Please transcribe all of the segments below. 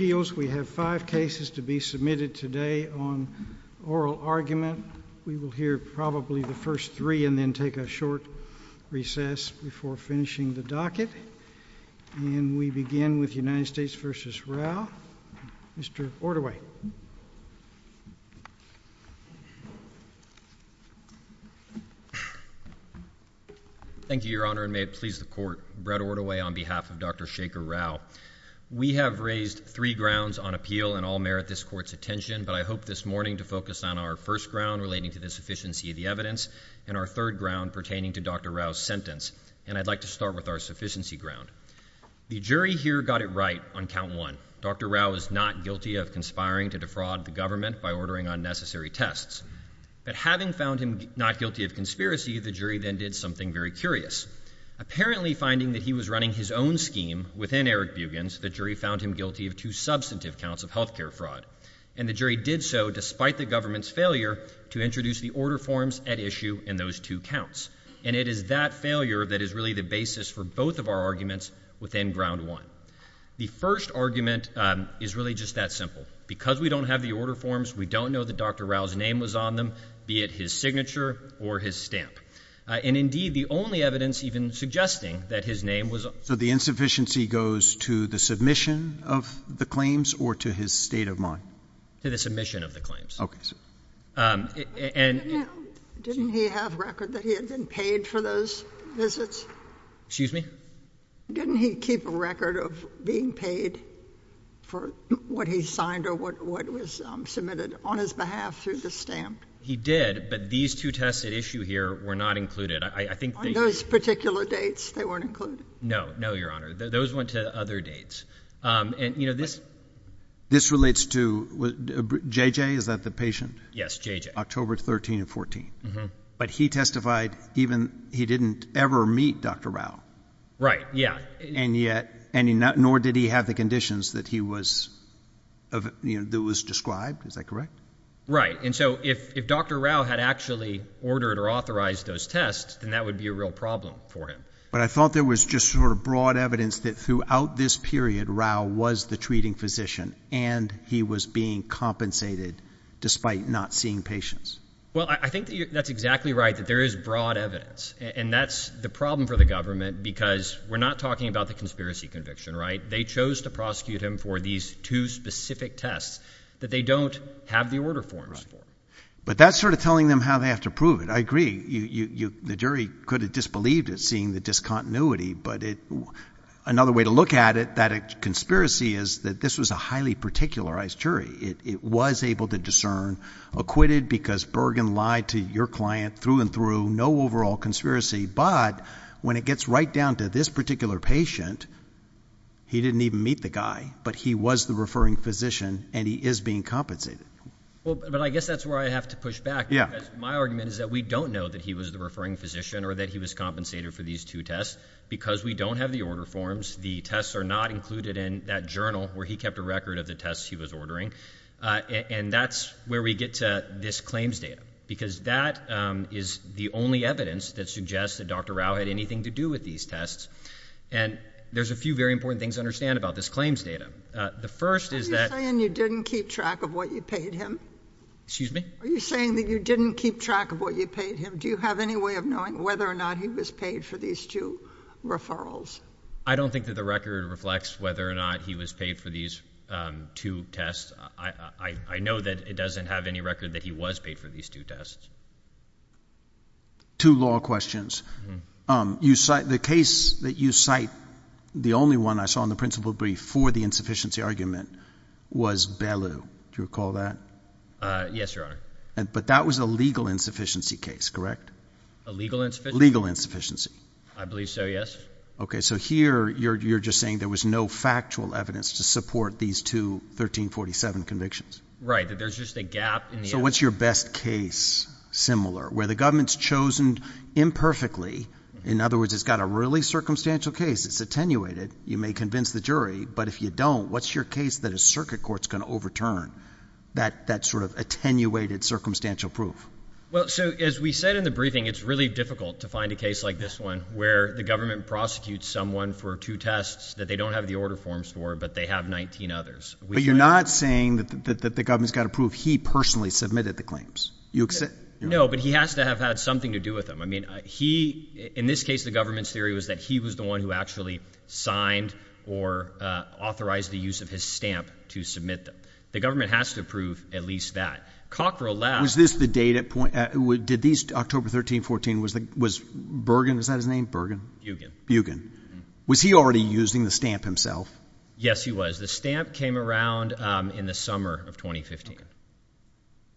We have five cases to be submitted today on oral argument. We will hear probably the first three and then take a short recess before finishing the docket. And we begin with United States v. Rao. Mr. Ortaway. Thank you, Your Honor, and may it please the Court. Brett Ortaway on behalf of Dr. Shachar Rao. We have raised three grounds on appeal and all merit this Court's attention, but I hope this morning to focus on our first ground relating to the sufficiency of the evidence, and our third ground pertaining to Dr. Rao's sentence. And I'd like to start with our sufficiency ground. The jury here got it right on count one. Dr. Rao is not guilty of conspiring to defraud the government by ordering unnecessary tests. But having found him not guilty of conspiracy, the jury then did something very curious. Apparently finding that he was running his own scheme within Eric Bugin's, the jury found him guilty of two substantive counts of health care fraud. And the jury did so despite the government's failure to introduce the order forms at issue in those two counts. And it is that failure that is really the basis for both of our arguments within ground one. The first argument is really just that simple. Because we don't have the order forms, we don't know that Dr. Rao's name was on them, be it his signature or his stamp. And indeed, the only evidence even suggesting that his name was. So the insufficiency goes to the submission of the claims or to his state of mind? To the submission of the claims. Okay. And didn't he have record that he had been paid for those visits? Excuse me? Didn't he keep a record of being paid for what he signed or what was submitted on his behalf through the stamp? He did. But these two tests at issue here were not included. I think those particular dates they weren't included. No, no, Your Honor. Those went to other dates. And you know, this this relates to J. J. Is that the patient? Yes. J. J. October 13 and 14. But he testified even he didn't ever meet Dr. Rao. Right. Yeah. And yet and I mean, nor did he have the conditions that he was of that was described. Is that correct? Right. And so if if Dr. Rao had actually ordered or authorized those tests, then that would be a real problem for him. But I thought there was just sort of broad evidence that throughout this period, Rao was the treating physician and he was being compensated despite not seeing patients. Well, I think that's exactly right, that there is broad evidence. And that's the problem for the government, because we're not talking about the conspiracy conviction. Right. They chose to prosecute him for these two specific tests that they don't have the order forms for. But that's sort of telling them how they have to prove it. I agree. You the jury could have disbelieved it, seeing the discontinuity. But it another way to look at it, that a conspiracy is that this was a highly particularized jury. It was able to discern acquitted because Bergen lied to your client through and through no overall conspiracy. But when it gets right down to this particular patient, he didn't even meet the guy, but he was the referring physician and he is being compensated. Well, but I guess that's where I have to push back. Yeah. My argument is that we don't know that he was the referring physician or that he was compensated for these two tests because we don't have the order forms. The tests are not included in that journal where he kept a record of the tests he was ordering. And that's where we get to this claims data, because that is the only evidence that suggests that Dr Rao had anything to do with these tests. And there's a few very important things understand about this claims data. The first is that you didn't keep track of what you paid him. Excuse me. Are you saying that you didn't keep track of what you paid him? Do you have any way of knowing whether or not he was paid for these two referrals? I don't think that the record reflects whether or not he was paid for these two tests. I know that it doesn't have any record that he was paid for these two tests. Two law questions. Um, you cite the case that you cite. The only one I saw in the principal brief for the insufficiency argument was Bellu. Do you recall that? Uh, yes, your honor. But that was a legal insufficiency case, correct? A legal, legal insufficiency. I believe so. Yes. Okay. So here you're, you're just saying there was no factual evidence to support these two 1347 convictions, right? That there's just a gap. So what's your best case similar where the government's chosen imperfectly. In other words, it's got a really circumstantial case. It's attenuated. You may convince the jury, but if you don't, what's your case that a circuit court's going to overturn that, that sort of attenuated circumstantial proof. Well, so as we said in the briefing, it's really difficult to find a case like this one where the government prosecutes someone for two tests that they don't have the order forms for, but they have 19 others. But you're not saying that the government's got to prove he personally submitted the claims you accept. No, but he has to have had something to do with them. I mean, he, in this case, the government's theory was that he was the one who actually signed or, uh, authorized the use of his stamp to submit them. The government has to approve at least that cockerel lab. Is this the date at point? Uh, did these October 13, 14 was the, was Bergen, is that his name? Bergen? You can, you can. Was he already using the stamp himself? Yes, he was. The stamp came around, um, in the summer of 2015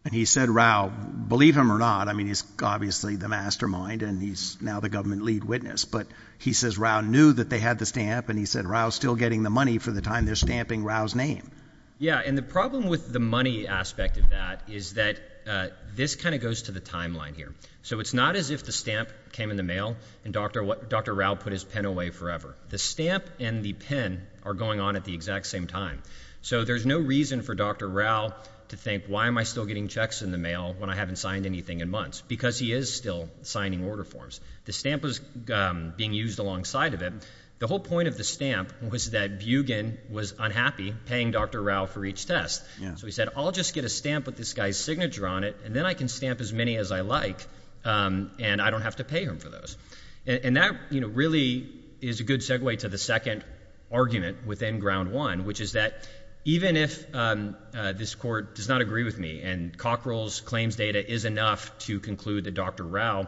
and he said, Rao, believe him or not. I mean, he's obviously the mastermind and he's now the government lead witness, but he says round knew that they had the stamp and he said, Rao's still getting the money for the time. They're stamping Rao's name. Yeah. And the problem with the money aspect of that is that, uh, this kind of goes to the timeline here. So it's not as if the stamp came in the mail and Dr. What Dr. Rao put his pen away forever. The stamp and the pen are going on at the exact same time. So there's no reason for Dr. Rao to think, why am I still getting checks in the mail when I haven't signed anything in months because he is still signing order forms. The stamp was, um, being used alongside of him. The whole point of the stamp was that bugan was unhappy paying Dr. Rao for each test. So he said, I'll just get a stamp with this guy's signature on it and then I can stamp as many as I like. Um, and I don't have to pay him for those. And that really is a good segue to the second argument within ground one, which is that even if, um, uh, this court does not agree with me and cock rolls claims data is enough to conclude that Dr. Rao,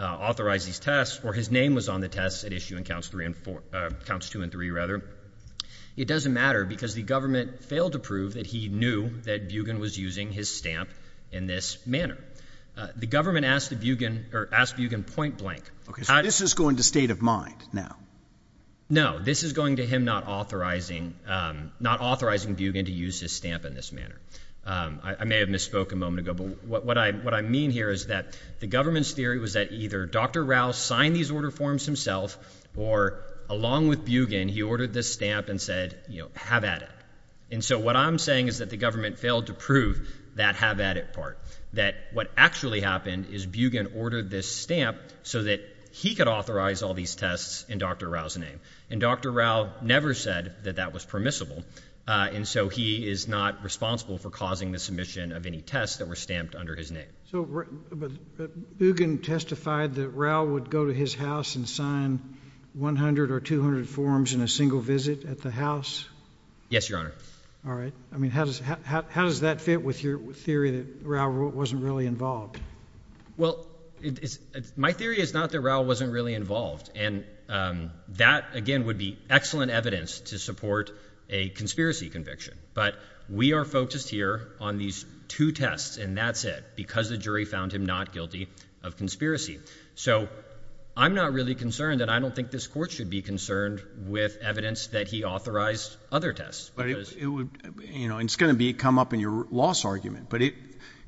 uh, authorized these tests or his name was on the tests at issue in counts three and four, uh, counts two and three rather. It doesn't matter because the government failed to prove that he knew that bugan was using his stamp in this manner. Uh, the government asked the point blank. Okay. So this is going to state of mind now. No, this is going to him not authorizing, um, not authorizing bugan to use his stamp in this manner. Um, I may have misspoke a moment ago, but what I, what I mean here is that the government's theory was that either Dr. Rao signed these order forms himself or along with bugan, he ordered this stamp and said, you know, have at it. And so what I'm saying is that the government ordered this stamp so that he could authorize all these tests in Dr. Rao's name. And Dr. Rao never said that that was permissible. Uh, and so he is not responsible for causing the submission of any tests that were stamped under his name. So, but, but bugan testified that Rao would go to his house and sign 100 or 200 forms in a single visit at the house. Yes, your honor. All right. I mean, how does, how, how, how does that fit with your theory that Rao wasn't really involved? Well, it is, my theory is not that Rao wasn't really involved. And, um, that again would be excellent evidence to support a conspiracy conviction, but we are focused here on these two tests and that's it because the jury found him not guilty of conspiracy. So I'm not really concerned that I don't think this court should be concerned with evidence that he authorized other tests, but it would, you know, it's going to be come up in your loss argument, but it,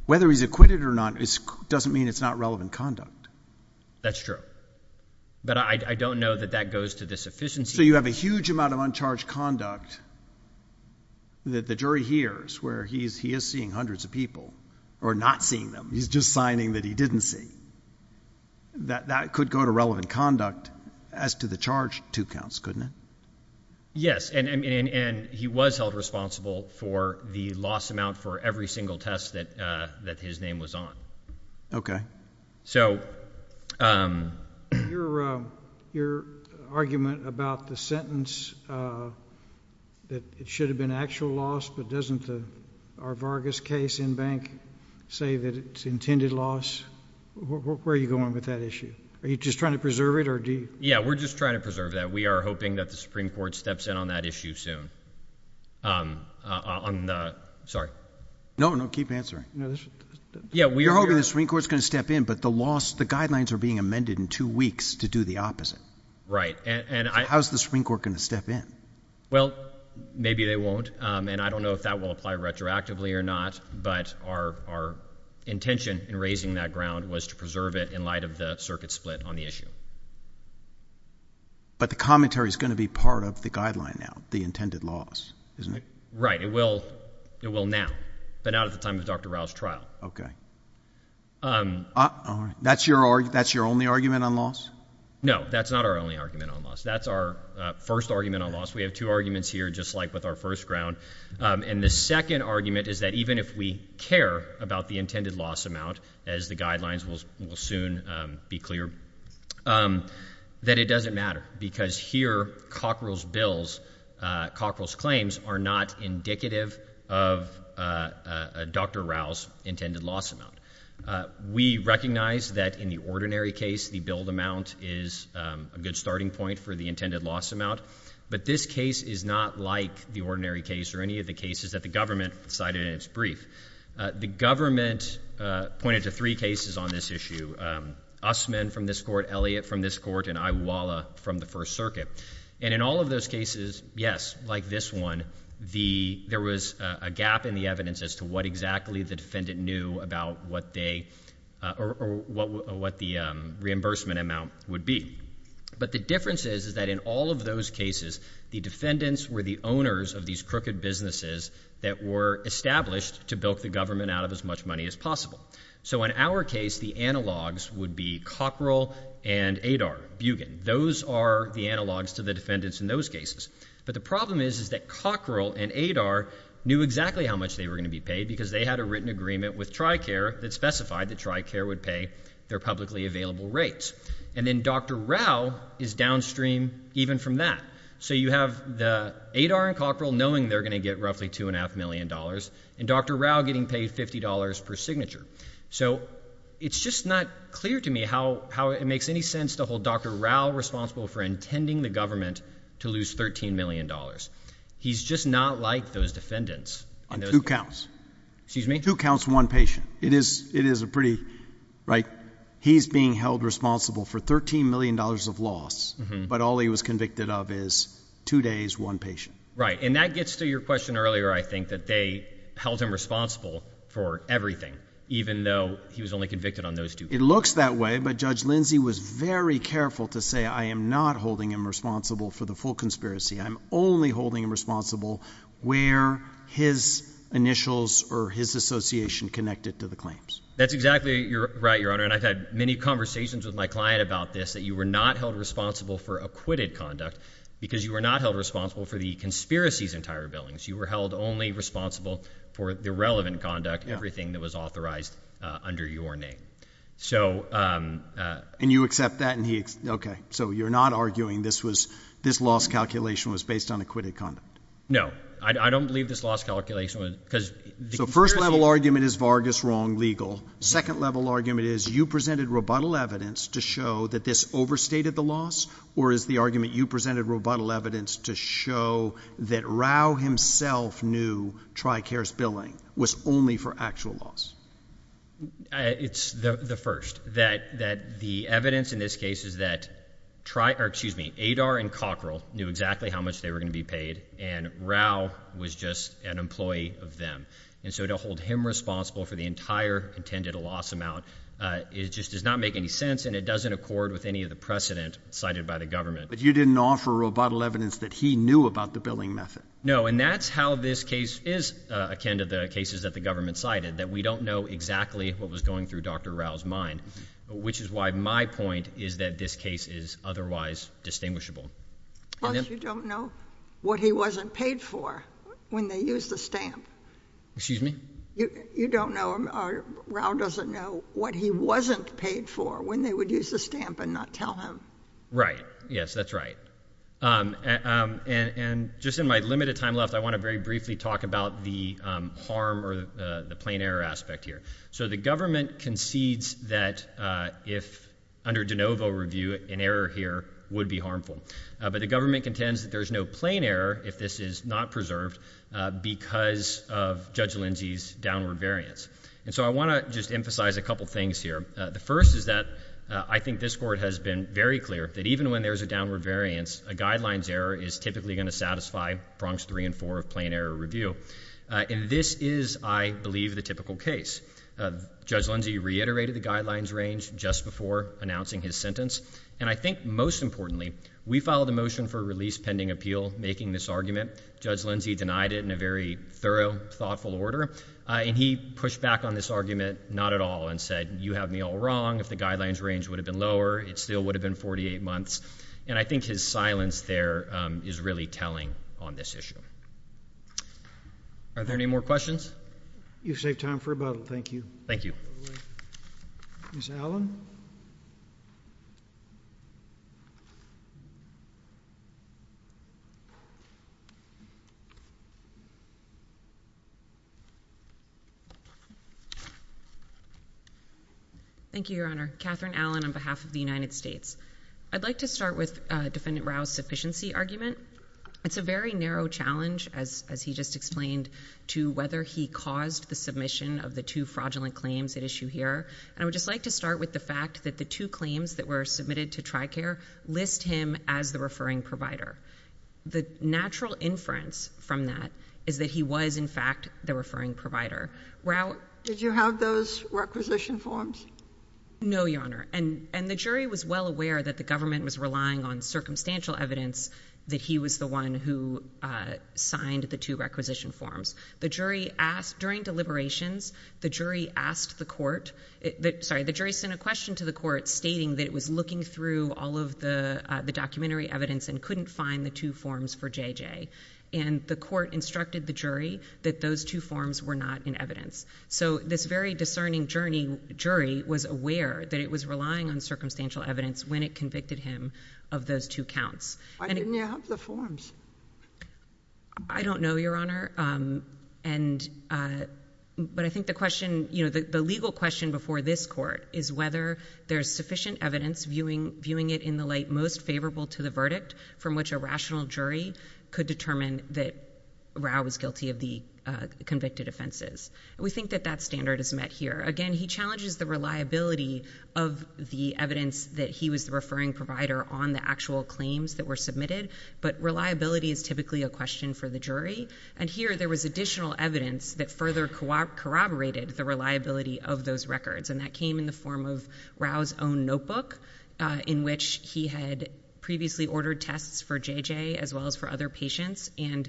whether he's acquitted or not, it doesn't mean it's not relevant conduct. That's true. But I don't know that that goes to this efficiency. So you have a huge amount of uncharged conduct that the jury hears where he's, he is seeing hundreds of people or not seeing them. He's just signing that he didn't see that that could go to relevant conduct as to the charge. Two counts, couldn't it? Yes. And, and, and he was held responsible for the loss amount for every single test that, uh, that his name was on. Okay. So, um, your, um, your argument about the sentence, uh, that it should have been actual loss, but doesn't the, our Vargas case in bank say that it's intended loss? Where are you going with that issue? Are you just trying to preserve it or do you? Yeah, we're just trying to preserve that. We are hoping that the Supreme Court steps in on that issue soon. Um, uh, on the, sorry. No, no, keep answering. Yeah. We're hoping the Supreme Court is going to step in, but the loss, the guidelines are being amended in two weeks to do the opposite. Right. And how's the Supreme Court going to step in? Well, maybe they won't. Um, and I don't know if that will apply retroactively or not, but our, our intention in raising that ground was to preserve it in light of the circuit split on the issue. But the commentary is going to be part of the guideline. Now the intended loss, isn't it? Right. It will, it will now, but not at the time of Dr. Rouse trial. Okay. Um, that's your, that's your only argument on loss. No, that's not our only argument on loss. That's our first argument on loss. We have two arguments here, just like with our first ground. Um, and the second argument is that even if we care about the intended loss amount, as the guidelines will, will soon, um, be clear, um, that it doesn't matter because here Cockrell's bills, uh, Cockrell's claims are not indicative of, uh, uh, Dr. Rouse intended loss amount. Uh, we recognize that in the ordinary case, the billed amount is, um, a good starting point for the intended loss amount. But this case is not like the ordinary case or any of the cases that the government cited in its brief. Uh, the government, uh, pointed to three cases on this issue. Um, Usman from this court, Elliott from this court, and Iwala from the first circuit. And in all of those cases, yes, like this one, the, there was a gap in the evidence as to what exactly the defendant knew about what they, uh, or what, what the, um, reimbursement amount would be. But the difference is, is that in all of those cases, the defendants were the owners of these crooked businesses that were established to bilk the government out of as much money as possible. So in our case, the analogs would be Cockrell and ADAR, Bugin. Those are the analogs to the defendants in those cases. But the problem is, is that Cockrell and ADAR knew exactly how much they were gonna be paid because they had a written agreement with Tricare that specified that Tricare would pay their publicly available rates. And then Dr. Rouse is downstream even from that. So you have the ADAR and Cockrell knowing they're going to get roughly two and a half million dollars and Dr. Rouse getting paid $50 per signature. So it's just not clear to me how, how it makes any sense to hold Dr. Rouse responsible for intending the government to lose $13 million. He's just not like those defendants on two counts, excuse me, two counts, one patient. It is, it is a pretty right. He's being held responsible for $13 million of loss, but all he was convicted of is two days, one patient, right? And that gets to your question earlier. I think that they held him responsible for everything, even though he was only convicted on those two. It looks that way, but judge Lindsey was very careful to say, I am not holding him responsible for the full conspiracy. I'm only holding him responsible where his initials or his association connected to the claims. That's exactly right. Your Honor. And I've had many conversations with my client about this, that you were not held responsible for acquitted conduct because you were not held responsible for the conspiracies entire billings. You were held only responsible for the relevant conduct, everything that was authorized under your name. So, um, uh, and you accept that and he, okay, so you're not arguing this was, this loss calculation was based on acquitted conduct. No, I don't believe this loss calculation was because the first level argument is Vargas wrong legal. Second level argument is you presented rebuttal evidence to show that this overstated the loss or is the argument you presented rebuttal evidence to show that Rao himself knew Tri Cares billing was only for actual loss. It's the first that, that the evidence in this case is that try or excuse me, Adar and Cockrell knew exactly how much they were going to be paid and Rao was just an employee of them. And so to hold him responsible for the entire intended a loss amount, uh, it just does not make any sense and it doesn't accord with any of the precedent cited by the government. But you didn't offer rebuttal evidence that he knew about the billing method. No. And that's how this case is akin to the cases that the government cited that we don't know exactly what was going through dr Rao's mind, which is why my point is that this case is otherwise distinguishable. You don't know what he wasn't paid for when they use the stamp. Excuse me? You don't know. Rao doesn't know what he wasn't paid for when they would use the stamp and not tell him. Right. Yes, that's right. Um, um, and, and just in my limited time left, I want to very briefly talk about the, um, harm or the, uh, the plain error aspect here. So the government concedes that, uh, if under DeNovo review, an error here would be harmful. Uh, but the government contends that there's no plain error if this is not preserved because of Judge Lindsay's downward variance. And so I want to just emphasize a couple of things here. The first is that I think this court has been very clear that even when there's a downward variance, a guidelines error is typically going to satisfy Bronx three and four of plain error review. Uh, and this is, I believe, the typical case. Uh, Judge Lindsay reiterated the guidelines range just before announcing his sentence. And I think most importantly, we filed a motion for release pending appeal, making this argument, Judge Lindsay denied it in a very thorough thoughtful order. Uh, and he pushed back on this argument, not at all and said, you have me all wrong. If the guidelines range would have been lower, it still would have been 48 months. And I think his silence there, um, is really telling on this issue. Are there any more questions? You saved time for a bottle. Thank you. Thank you. Miss Allen. Thank you, Your Honor. Catherine Allen on behalf of the United States. I'd like to start with defendant Rouse sufficiency argument. It's a very narrow challenge, as he just explained to whether he caused the submission of the two fraudulent claims at issue here. And I would just like to start with the fact that the two claims that were submitted to try care list him as the referring provider. The natural inference from that is that he was, in fact, the referring provider route. Did you have those requisition forms? No, Your Honor. And the jury was well aware that the government was relying on circumstantial evidence that he was the one who signed the two requisition forms. The jury asked during deliberations, the jury asked the court that sorry, the jury sent a question to the court stating that it was looking through all of the documentary evidence and couldn't find the two forms for J. J. And the court instructed the jury that those two forms were not in evidence. So this very discerning journey jury was aware that it was relying on circumstantial evidence when it convicted him of those two counts. I didn't have the forms. I don't know, Your Honor. And but I think the question, you know, the legal question before this court is whether there's sufficient evidence viewing viewing it in the light most favorable to the verdict from which a rational jury could determine that Rau was guilty of the convicted offenses. We think that that standard is met here again. He challenges the reliability of the evidence that he was the referring provider on the actual claims that were submitted. But reliability is typically a question for the jury. And here there was additional evidence that further corroborated the reliability of those records. And that came in the form of Rau's own notebook in which he had previously ordered tests for J. J. as well as for other patients. And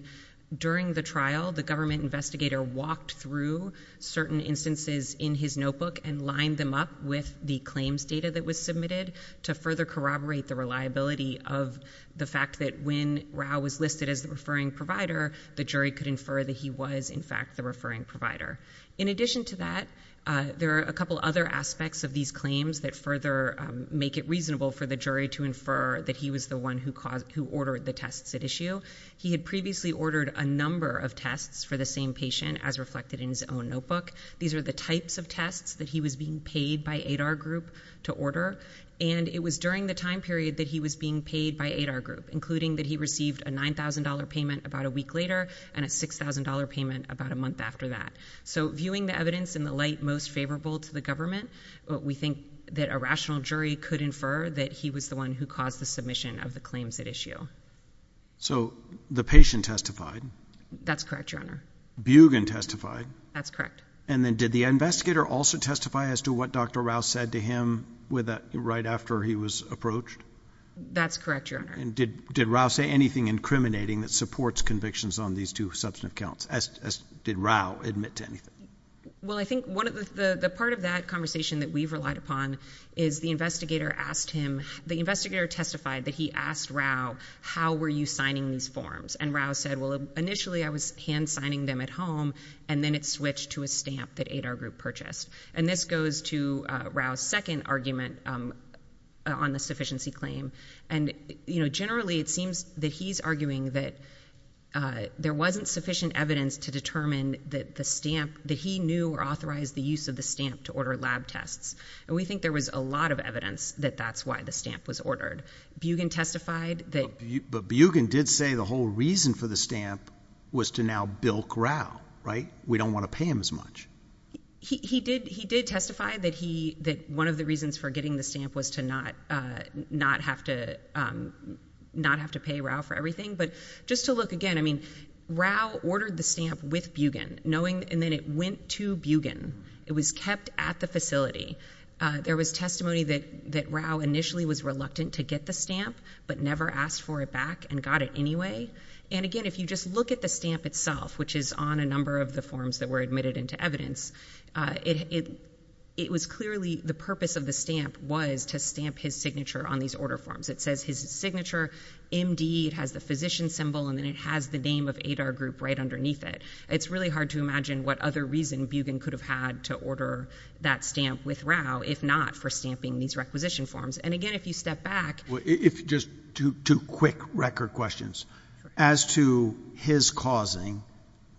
during the trial, the government investigator walked through certain instances in his notebook and lined them up with the claims data that was submitted to further corroborate the reliability of the fact that when Rau was listed as the referring provider, the jury could infer that he was, in fact, the referring provider. In addition to that, there are a couple other aspects of these claims that further make it reasonable for the jury to infer that he was the one who caused who ordered the tests at issue. He had previously ordered a number of tests for the same patient as reflected in his own notebook. These are the types of tests that he was being paid by Adar Group to order. And it was during the time period that he was being paid by Adar Group, including that he received a $9,000 payment about a week later and a $6,000 payment about a month after that. So viewing the evidence in the light most favorable to the government, we think that a rational jury could infer that he was the one who caused the submission of the claims at issue. So the patient testified? That's correct, Your Honor. Bugan testified? That's correct. And then did the investigator also testify as to what Dr. Rauh said to him right after he was approached? That's correct, Your Honor. And did Rauh say anything incriminating that supports convictions on these two substantive counts, as did Rauh admit to anything? Well, I think the part of that conversation that we've relied upon is the investigator asked him, the investigator testified that he asked Rauh, how were you signing these forms? And Rauh said, well, initially I was hand signing them at home, and then it switched to a stamp that ADAR group purchased. And this goes to Rauh's second argument on the sufficiency claim. And, you know, generally it seems that he's arguing that there wasn't sufficient evidence to determine that the stamp, that he knew or authorized the use of the stamp to order lab tests. And we think there was a lot of evidence that that's why the stamp was ordered. Bugan testified that... But Bugan did say the whole reason for the stamp was to now bilk Rauh, right? We don't want to pay him as much. He did, he did testify that he, that one of the reasons for getting the stamp was to not, not have to, not have to pay Rauh for everything. But just to look again, I mean, Rauh ordered the stamp with Bugan knowing, and then it went to Bugan. It was kept at the facility. There was testimony that Rauh initially was reluctant to get the stamp, but never asked for it back and got it anyway. And again, if you just look at the stamp itself, which is on a number of the forms that were admitted into evidence, uh, it, it, it was clearly the purpose of the stamp was to stamp his signature on these order forms. It says his signature MD, it has the physician symbol, and then it has the name of ADAR group right underneath it. It's really hard to imagine what other reason Bugan could have had to order that stamp with Rauh, if not for stamping these requisition forms. And again, if you step back...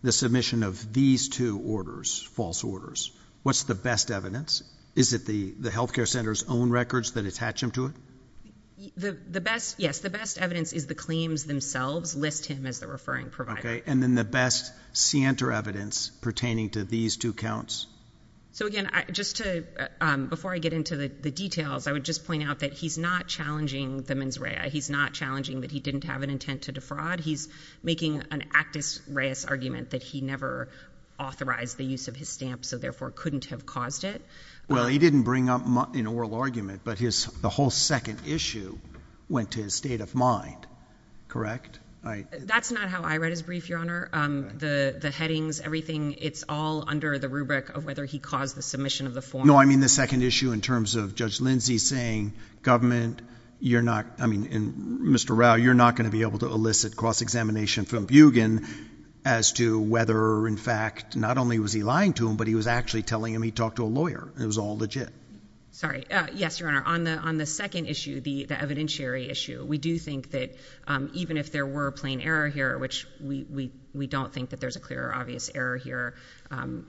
The submission of these two orders, false orders, what's the best evidence? Is it the, the healthcare center's own records that attach him to it? The, the best, yes, the best evidence is the claims themselves list him as the referring provider. Okay. And then the best scienter evidence pertaining to these two counts. So again, just to, um, before I get into the details, I would just point out that he's not challenging the mens rea. He's not challenging that he didn't have an intent to defraud. He's making an actus reus argument that he never authorized the use of his stamp. So therefore couldn't have caused it. Well, he didn't bring up in oral argument, but his, the whole second issue went to his state of mind. Correct? That's not how I read his brief, Your Honor. Um, the, the headings, everything, it's all under the rubric of whether he caused the submission of the form. No, I mean the second issue in terms of Judge Lindsey saying government, you're not, I mean, in Mr. Rao, you're not going to be able to elicit cross-examination from Bugen as to whether in fact, not only was he lying to him, but he was actually telling him he talked to a lawyer and it was all legit. Sorry. Uh, yes, Your Honor. On the, on the second issue, the, the evidentiary issue, we do think that, um, even if there were plain error here, which we, we, we don't think that there's a clear obvious error here. Um,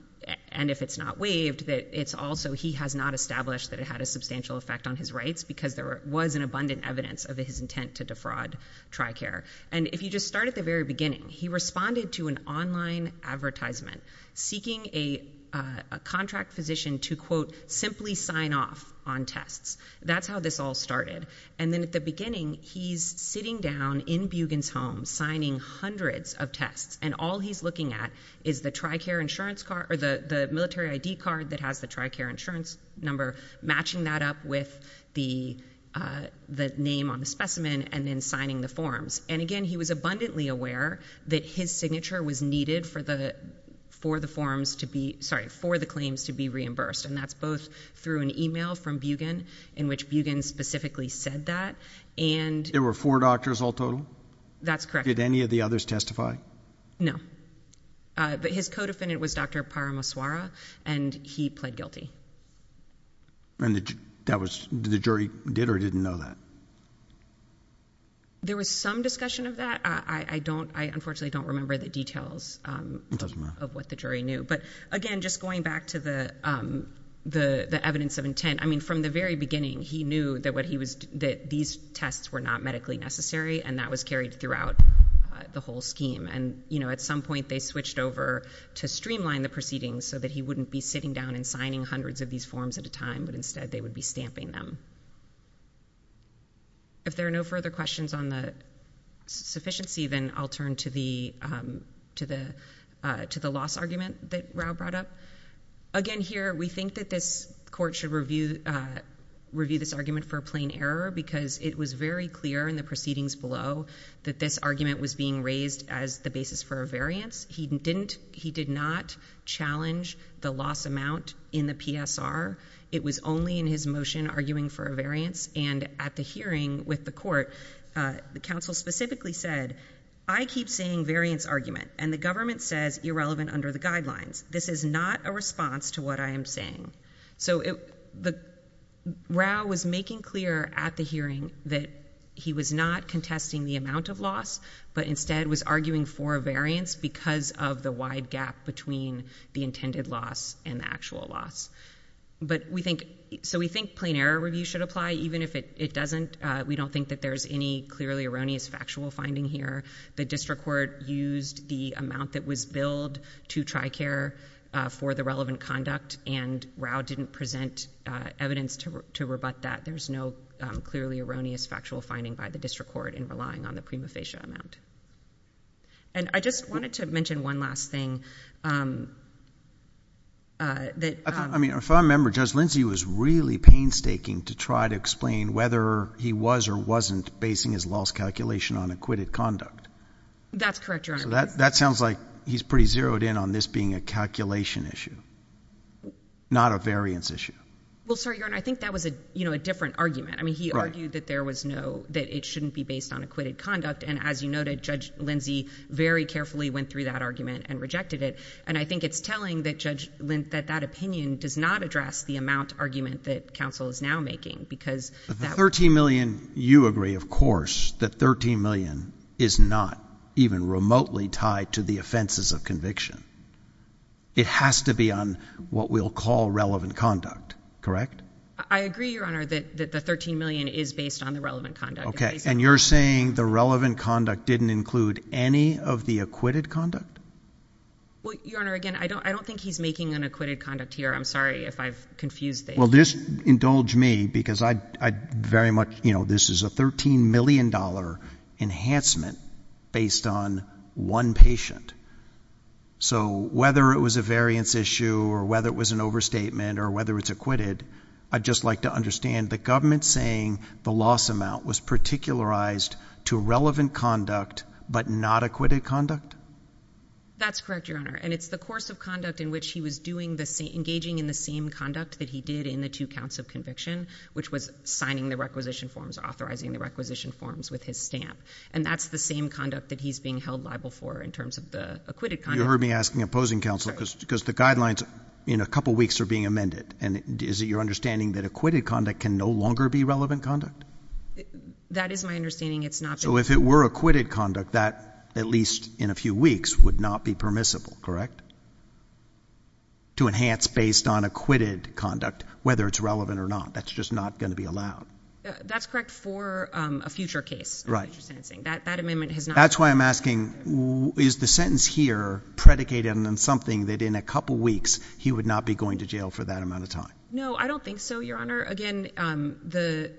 and if it's not waived that it's also, he has not established that it had a substantial effect on his rights because there was an abundant evidence of his intent to defraud Tricare. And if you just start at the very beginning, he responded to an online advertisement seeking a, uh, a contract physician to quote simply sign off on tests. That's how this all started. And then at the beginning, he's sitting down in Bugen's home signing hundreds of tests and all he's looking at is the Tricare insurance card or the, the military ID card that has the Tricare insurance number matching that up with the, uh, the name on the specimen and then signing the forms. And again, he was abundantly aware that his signature was needed for the, for the forms to be, sorry, for the claims to be reimbursed. And that's both through an email from Bugen in which Bugen specifically said that and. There were four doctors all total. That's correct. Did any of the others testify? No. Uh, but his co-defendant was Dr. Paramaswara and he pled guilty. And that that was the jury did or didn't know that. There was some discussion of that. I don't, I unfortunately don't remember the details of what the jury knew, but again, just going back to the, um, the, the evidence of intent. I mean, from the very beginning, he knew that what he was, that these tests were not medically necessary and that was carried throughout the whole scheme. And, you know, at some point they switched over to streamline the proceedings so that he wouldn't be sitting down and signing hundreds of these forms at a time, but instead they would be stamping them. If there are no further questions on the sufficiency, then I'll turn to the, um, to the, uh, to the loss argument that Rao brought up. Again, here, we think that this court should review, uh, review this argument for a plain error because it was very clear in the proceedings below that this argument was being raised as the basis for a variance. He didn't, he did not challenge the loss amount in the PSR. It was only in his motion arguing for a variance. And at the hearing with the court, uh, the council specifically said, I keep saying variance argument and the government says irrelevant under the guidelines. This is not a response to what I am saying. So it, the Rao was making clear at the hearing that he was not contesting the amount of loss, but instead was arguing for a variance because of the wide gap between the intended loss and the actual loss. But we think, so we think plain error review should apply even if it, it doesn't. Uh, we don't think that there's any clearly erroneous factual finding here. The district court used the amount that was billed to TRICARE, uh, for the relevant conduct and Rao didn't present, uh, evidence to re, to rebut that. There's no, um, clearly erroneous factual finding by the district court in relying on the prima facie amount. And I just wanted to mention one last thing. Um, uh, that, I mean, if I remember Judge Lindsey was really painstaking to try to explain whether he was or wasn't basing his loss calculation on acquitted conduct. That's correct. That sounds like he's pretty zeroed in on this being a calculation issue, not a variance issue. Well, sorry, Your Honor, I think that was a, you know, a different argument. I mean, he argued that there was no, that it shouldn't be based on acquitted conduct. And as you noted, Judge Lindsey very carefully went through that argument and rejected it. And I think it's telling that Judge Lint that that opinion does not address the amount argument that counsel is now making because the 13 million, you agree, of course, that 13 million is not even remotely tied to the I agree, Your Honor, that the 13 million is based on the relevant conduct. And you're saying the relevant conduct didn't include any of the acquitted conduct? Well, Your Honor, again, I don't, I don't think he's making an acquitted conduct here. I'm sorry if I've confused. Well, this indulge me because I, I very much, you know, this is a $13 million enhancement based on one patient. So whether it was a variance issue or whether it was an overstatement or whether it's acquitted, I'd just like to understand the government saying the loss amount was particularized to relevant conduct, but not acquitted conduct. That's correct, Your Honor. And it's the course of conduct in which he was doing the same, engaging in the same conduct that he did in the two counts of conviction, which was signing the requisition forms, authorizing the requisition forms with his stamp. And that's the same conduct that he's being held liable for in terms of the acquitted conduct. You heard me asking opposing counsel because, because the guidelines in a couple of weeks are being amended. And is it your understanding that acquitted conduct can no longer be relevant conduct? That is my understanding. It's not. So if it were acquitted conduct that at least in a few weeks would not be permissible, correct? To enhance based on acquitted conduct, whether it's relevant or not, that's just not going to be allowed. That's correct for a future case. Right. That amendment has not. That's why I'm asking is the sentence here predicated on something that in a couple of weeks he would not be going to jail for that amount of time? No, I don't think so, Your Honor. Again, the,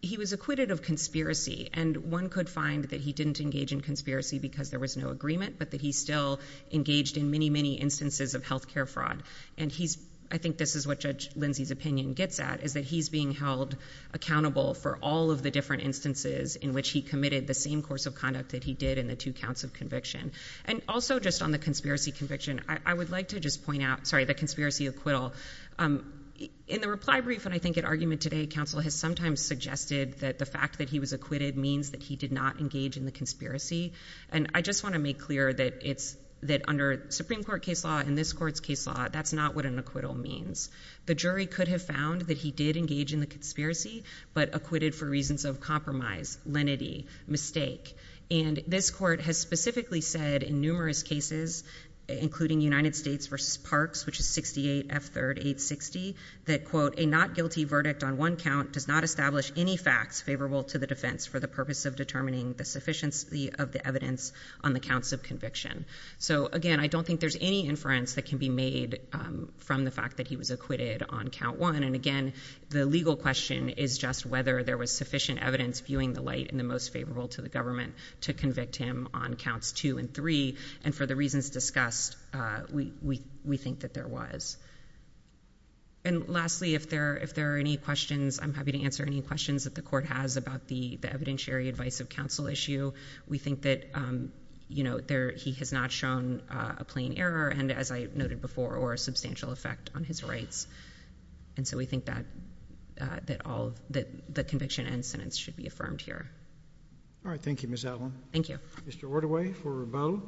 he was acquitted of conspiracy and one could find that he didn't engage in conspiracy because there was no agreement, but that he still engaged in many, many instances of healthcare fraud. And he's, I think this is what Judge Lindsay's opinion gets at is that he's being held accountable for all of the different instances in which he committed the same course of conduct that he did in the two counts of conviction. And also just on the conspiracy conviction, I would like to just point out, sorry, the conspiracy acquittal. In the reply brief, and I think at argument today, counsel has sometimes suggested that the fact that he was acquitted means that he did not engage in the conspiracy. And I just want to make clear that it's, that under Supreme Court case law and this court's case law, that's not what an acquittal means. The jury could have found that he did engage in the conspiracy, but acquitted for reasons of compromise, lenity, mistake. And this court has specifically said in numerous cases, including United States versus parks, which is 68 F third eight 60 that quote, a not guilty verdict on one count does not establish any facts favorable to the defense for the purpose of determining the sufficiency of the evidence on the counts of conviction. So again, I don't think there's any inference that can be made, um, from the fact that he was acquitted on count one. And again, the legal question is just whether there was sufficient evidence viewing the light and the most favorable to the government to convict him on counts two and three. And for the reasons discussed, uh, we, we, we think that there was. And lastly, if there, if there are any questions, I'm happy to answer any questions that the court has about the, the evidentiary advice of counsel issue. We think that, um, you know, there, he has not shown a plain error. And as I noted before, or a substantial effect on his rights. And so we think that, uh, that all the conviction incidents should be affirmed here. All right. Thank you, Ms. Allen. Thank you, Mr. Orderway for rebuttal.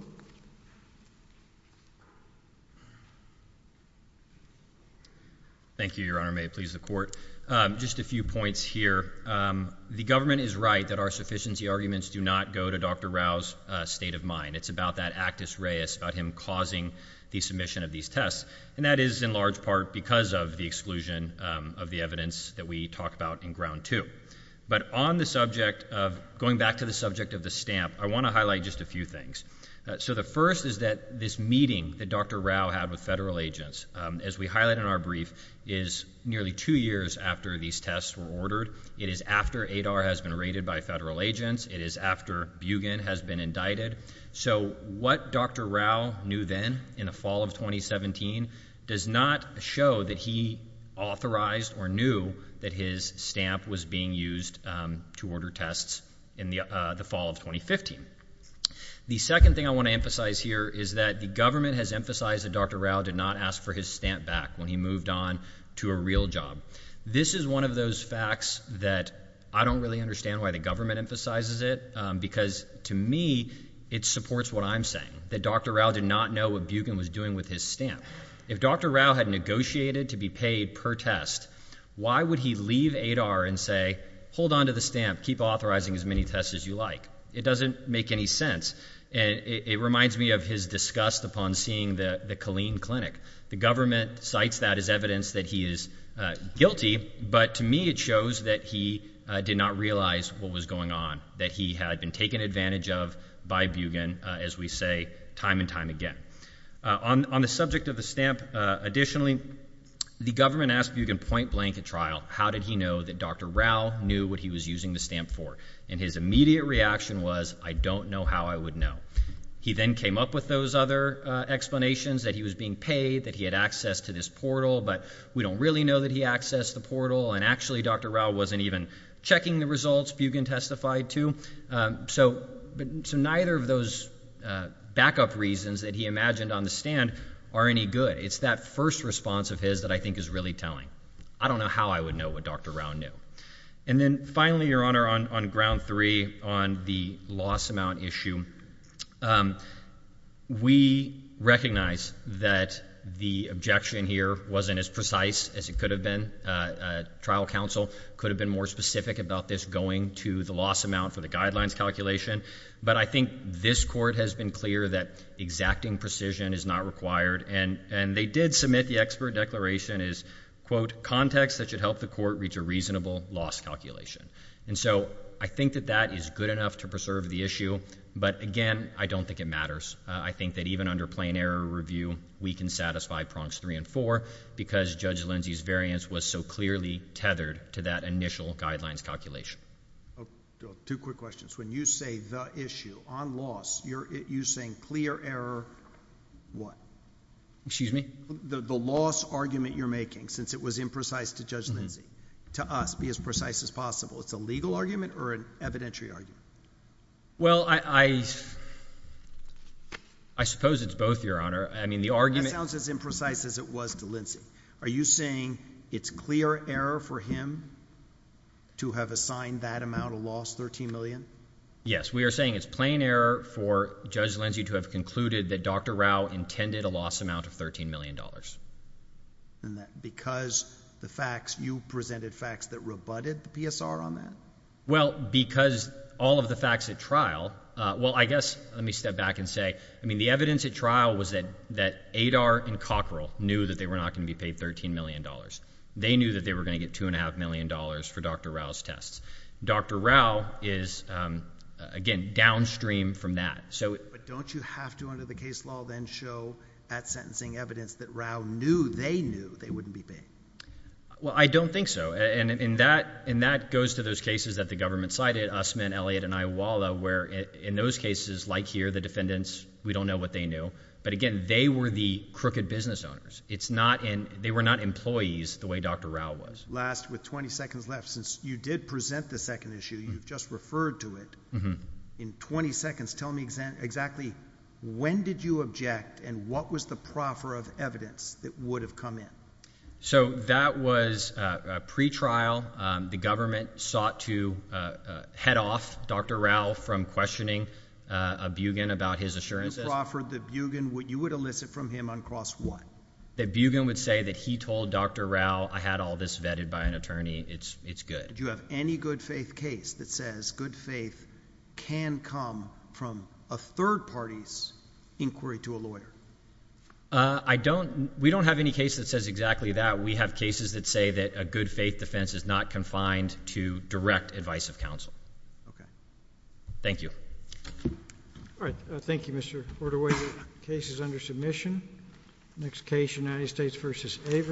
Thank you, Your Honor. May it please the court? Um, just a few points here. Um, the government is right that our sufficiency arguments do not go to Dr. Rouse, a state of mind. It's about that actus Reyes about him causing the submission of these tests. And that is in large part because of the exclusion of the evidence that we talked about in ground two. But on the subject of going back to the subject of the stamp, I want to highlight just a few things. So the first is that this meeting that Dr. Rao had with federal agents, um, as we highlight in our brief is nearly two years after these tests were ordered. It is after ADAR has been raided by federal agents. It is after Bugen has been indicted. So what Dr. Rao knew then in the fall of 2017 does not show that he authorized or knew that his stamp was being used to order tests in the fall of 2015. The second thing I want to emphasize here is that the government has emphasized that Dr. Rao did not ask for his stamp back when he moved on to a real job. This is one of those facts that I don't really understand why the government emphasizes it because to me it supports what I'm saying that Dr. Rao did not know what Bugen was doing with his stamp. If Dr. Rao had negotiated to be paid per test, why would he leave ADAR and say, hold on to the stamp, keep authorizing as many tests as you like? It doesn't make any sense. And it reminds me of his disgust upon seeing the Killeen Clinic. The government cites that as evidence that he is guilty. But to me it shows that he did not realize what was going on, that he had been taken advantage of by Bugen, as we say, time and time again. On the subject of the stamp, additionally, the government asked Bugen point blank at trial, how did he know that Dr. Rao knew what he was using the stamp for? And his immediate reaction was, I don't know how I would know. He then came up with those other explanations that he was being paid, that he had access to this portal, but we don't really know that he accessed the portal, and actually Dr. Rao wasn't even checking the results, Bugen testified to. So neither of those backup reasons that he imagined on the stand are any good. It's that first response of his that I think is really telling. I don't know how I would know what Dr. Rao knew. And then finally, Your Honor, on ground three, on the loss amount issue, we recognize that the objection here wasn't as precise as it could have been. Trial counsel could have been more specific about this going to the loss amount for the guidelines calculation, but I think this court has been clear that exacting precision is not required, and they did submit the expert declaration is, quote, context that should help the court reach a reasonable loss calculation. And so I think that that is good enough to preserve the issue, but again, I don't think it matters. I think that even under plain error review, we can satisfy prongs three and four because Judge Lindsey's variance was so clearly tethered to that initial guidelines calculation. Oh, two quick questions. When you say the issue on loss, you're saying clear error what? Excuse me? The loss argument you're making, since it was imprecise to Judge Lindsey, to us, be as precise as possible. It's a legal argument or an evidentiary argument? Well, I suppose it's both, Your Honor. I mean, the argument— That sounds as imprecise as it was to Lindsey. Are you saying it's clear error for him to have assigned that amount of loss, $13 million? Yes. We are saying it's plain error for Judge Lindsey to have concluded that Dr. Rao intended a loss amount of $13 million. Because the facts—you presented facts that rebutted the PSR on that? Well, because all of the facts at trial—well, I guess, let me step back and say, I mean, the evidence at trial was that ADAR and Cockrell knew that they were not going to be paid $13 million. They knew that they were going to get $2.5 million for Dr. Rao's tests. Dr. Rao is, again, downstream from that. But don't you have to, under the case law, then show at sentencing evidence that Rao knew they knew they wouldn't be paid? Well, I don't think so. And that goes to those cases that the government cited, Usman, Elliott, and Iwala, where in those cases, like here, the defendants, we don't know what they knew. But again, they were the crooked business owners. It's not—they were not employees the way Dr. Rao was. Last with 20 seconds left. Since you did present the second issue, you've just referred to it. In 20 seconds, tell me exactly when did you object and what was the proffer of evidence that would have come in? So that was pre-trial. The government sought to head off Dr. Rao from questioning Bugin about his assurances. Who proffered that Bugin—you would elicit from him on cross what? That Bugin would say that he told Dr. Rao, I had all this vetted by an attorney. It's good. Do you have any good faith case that says good faith can come from a third party's inquiry to a lawyer? We don't have any case that says exactly that. We have cases that say that a good faith defense is not confined to direct advice of counsel. Thank you. All right. Thank you, Mr. Hortowicz. Case is under submission. Next case, United States v. Averill.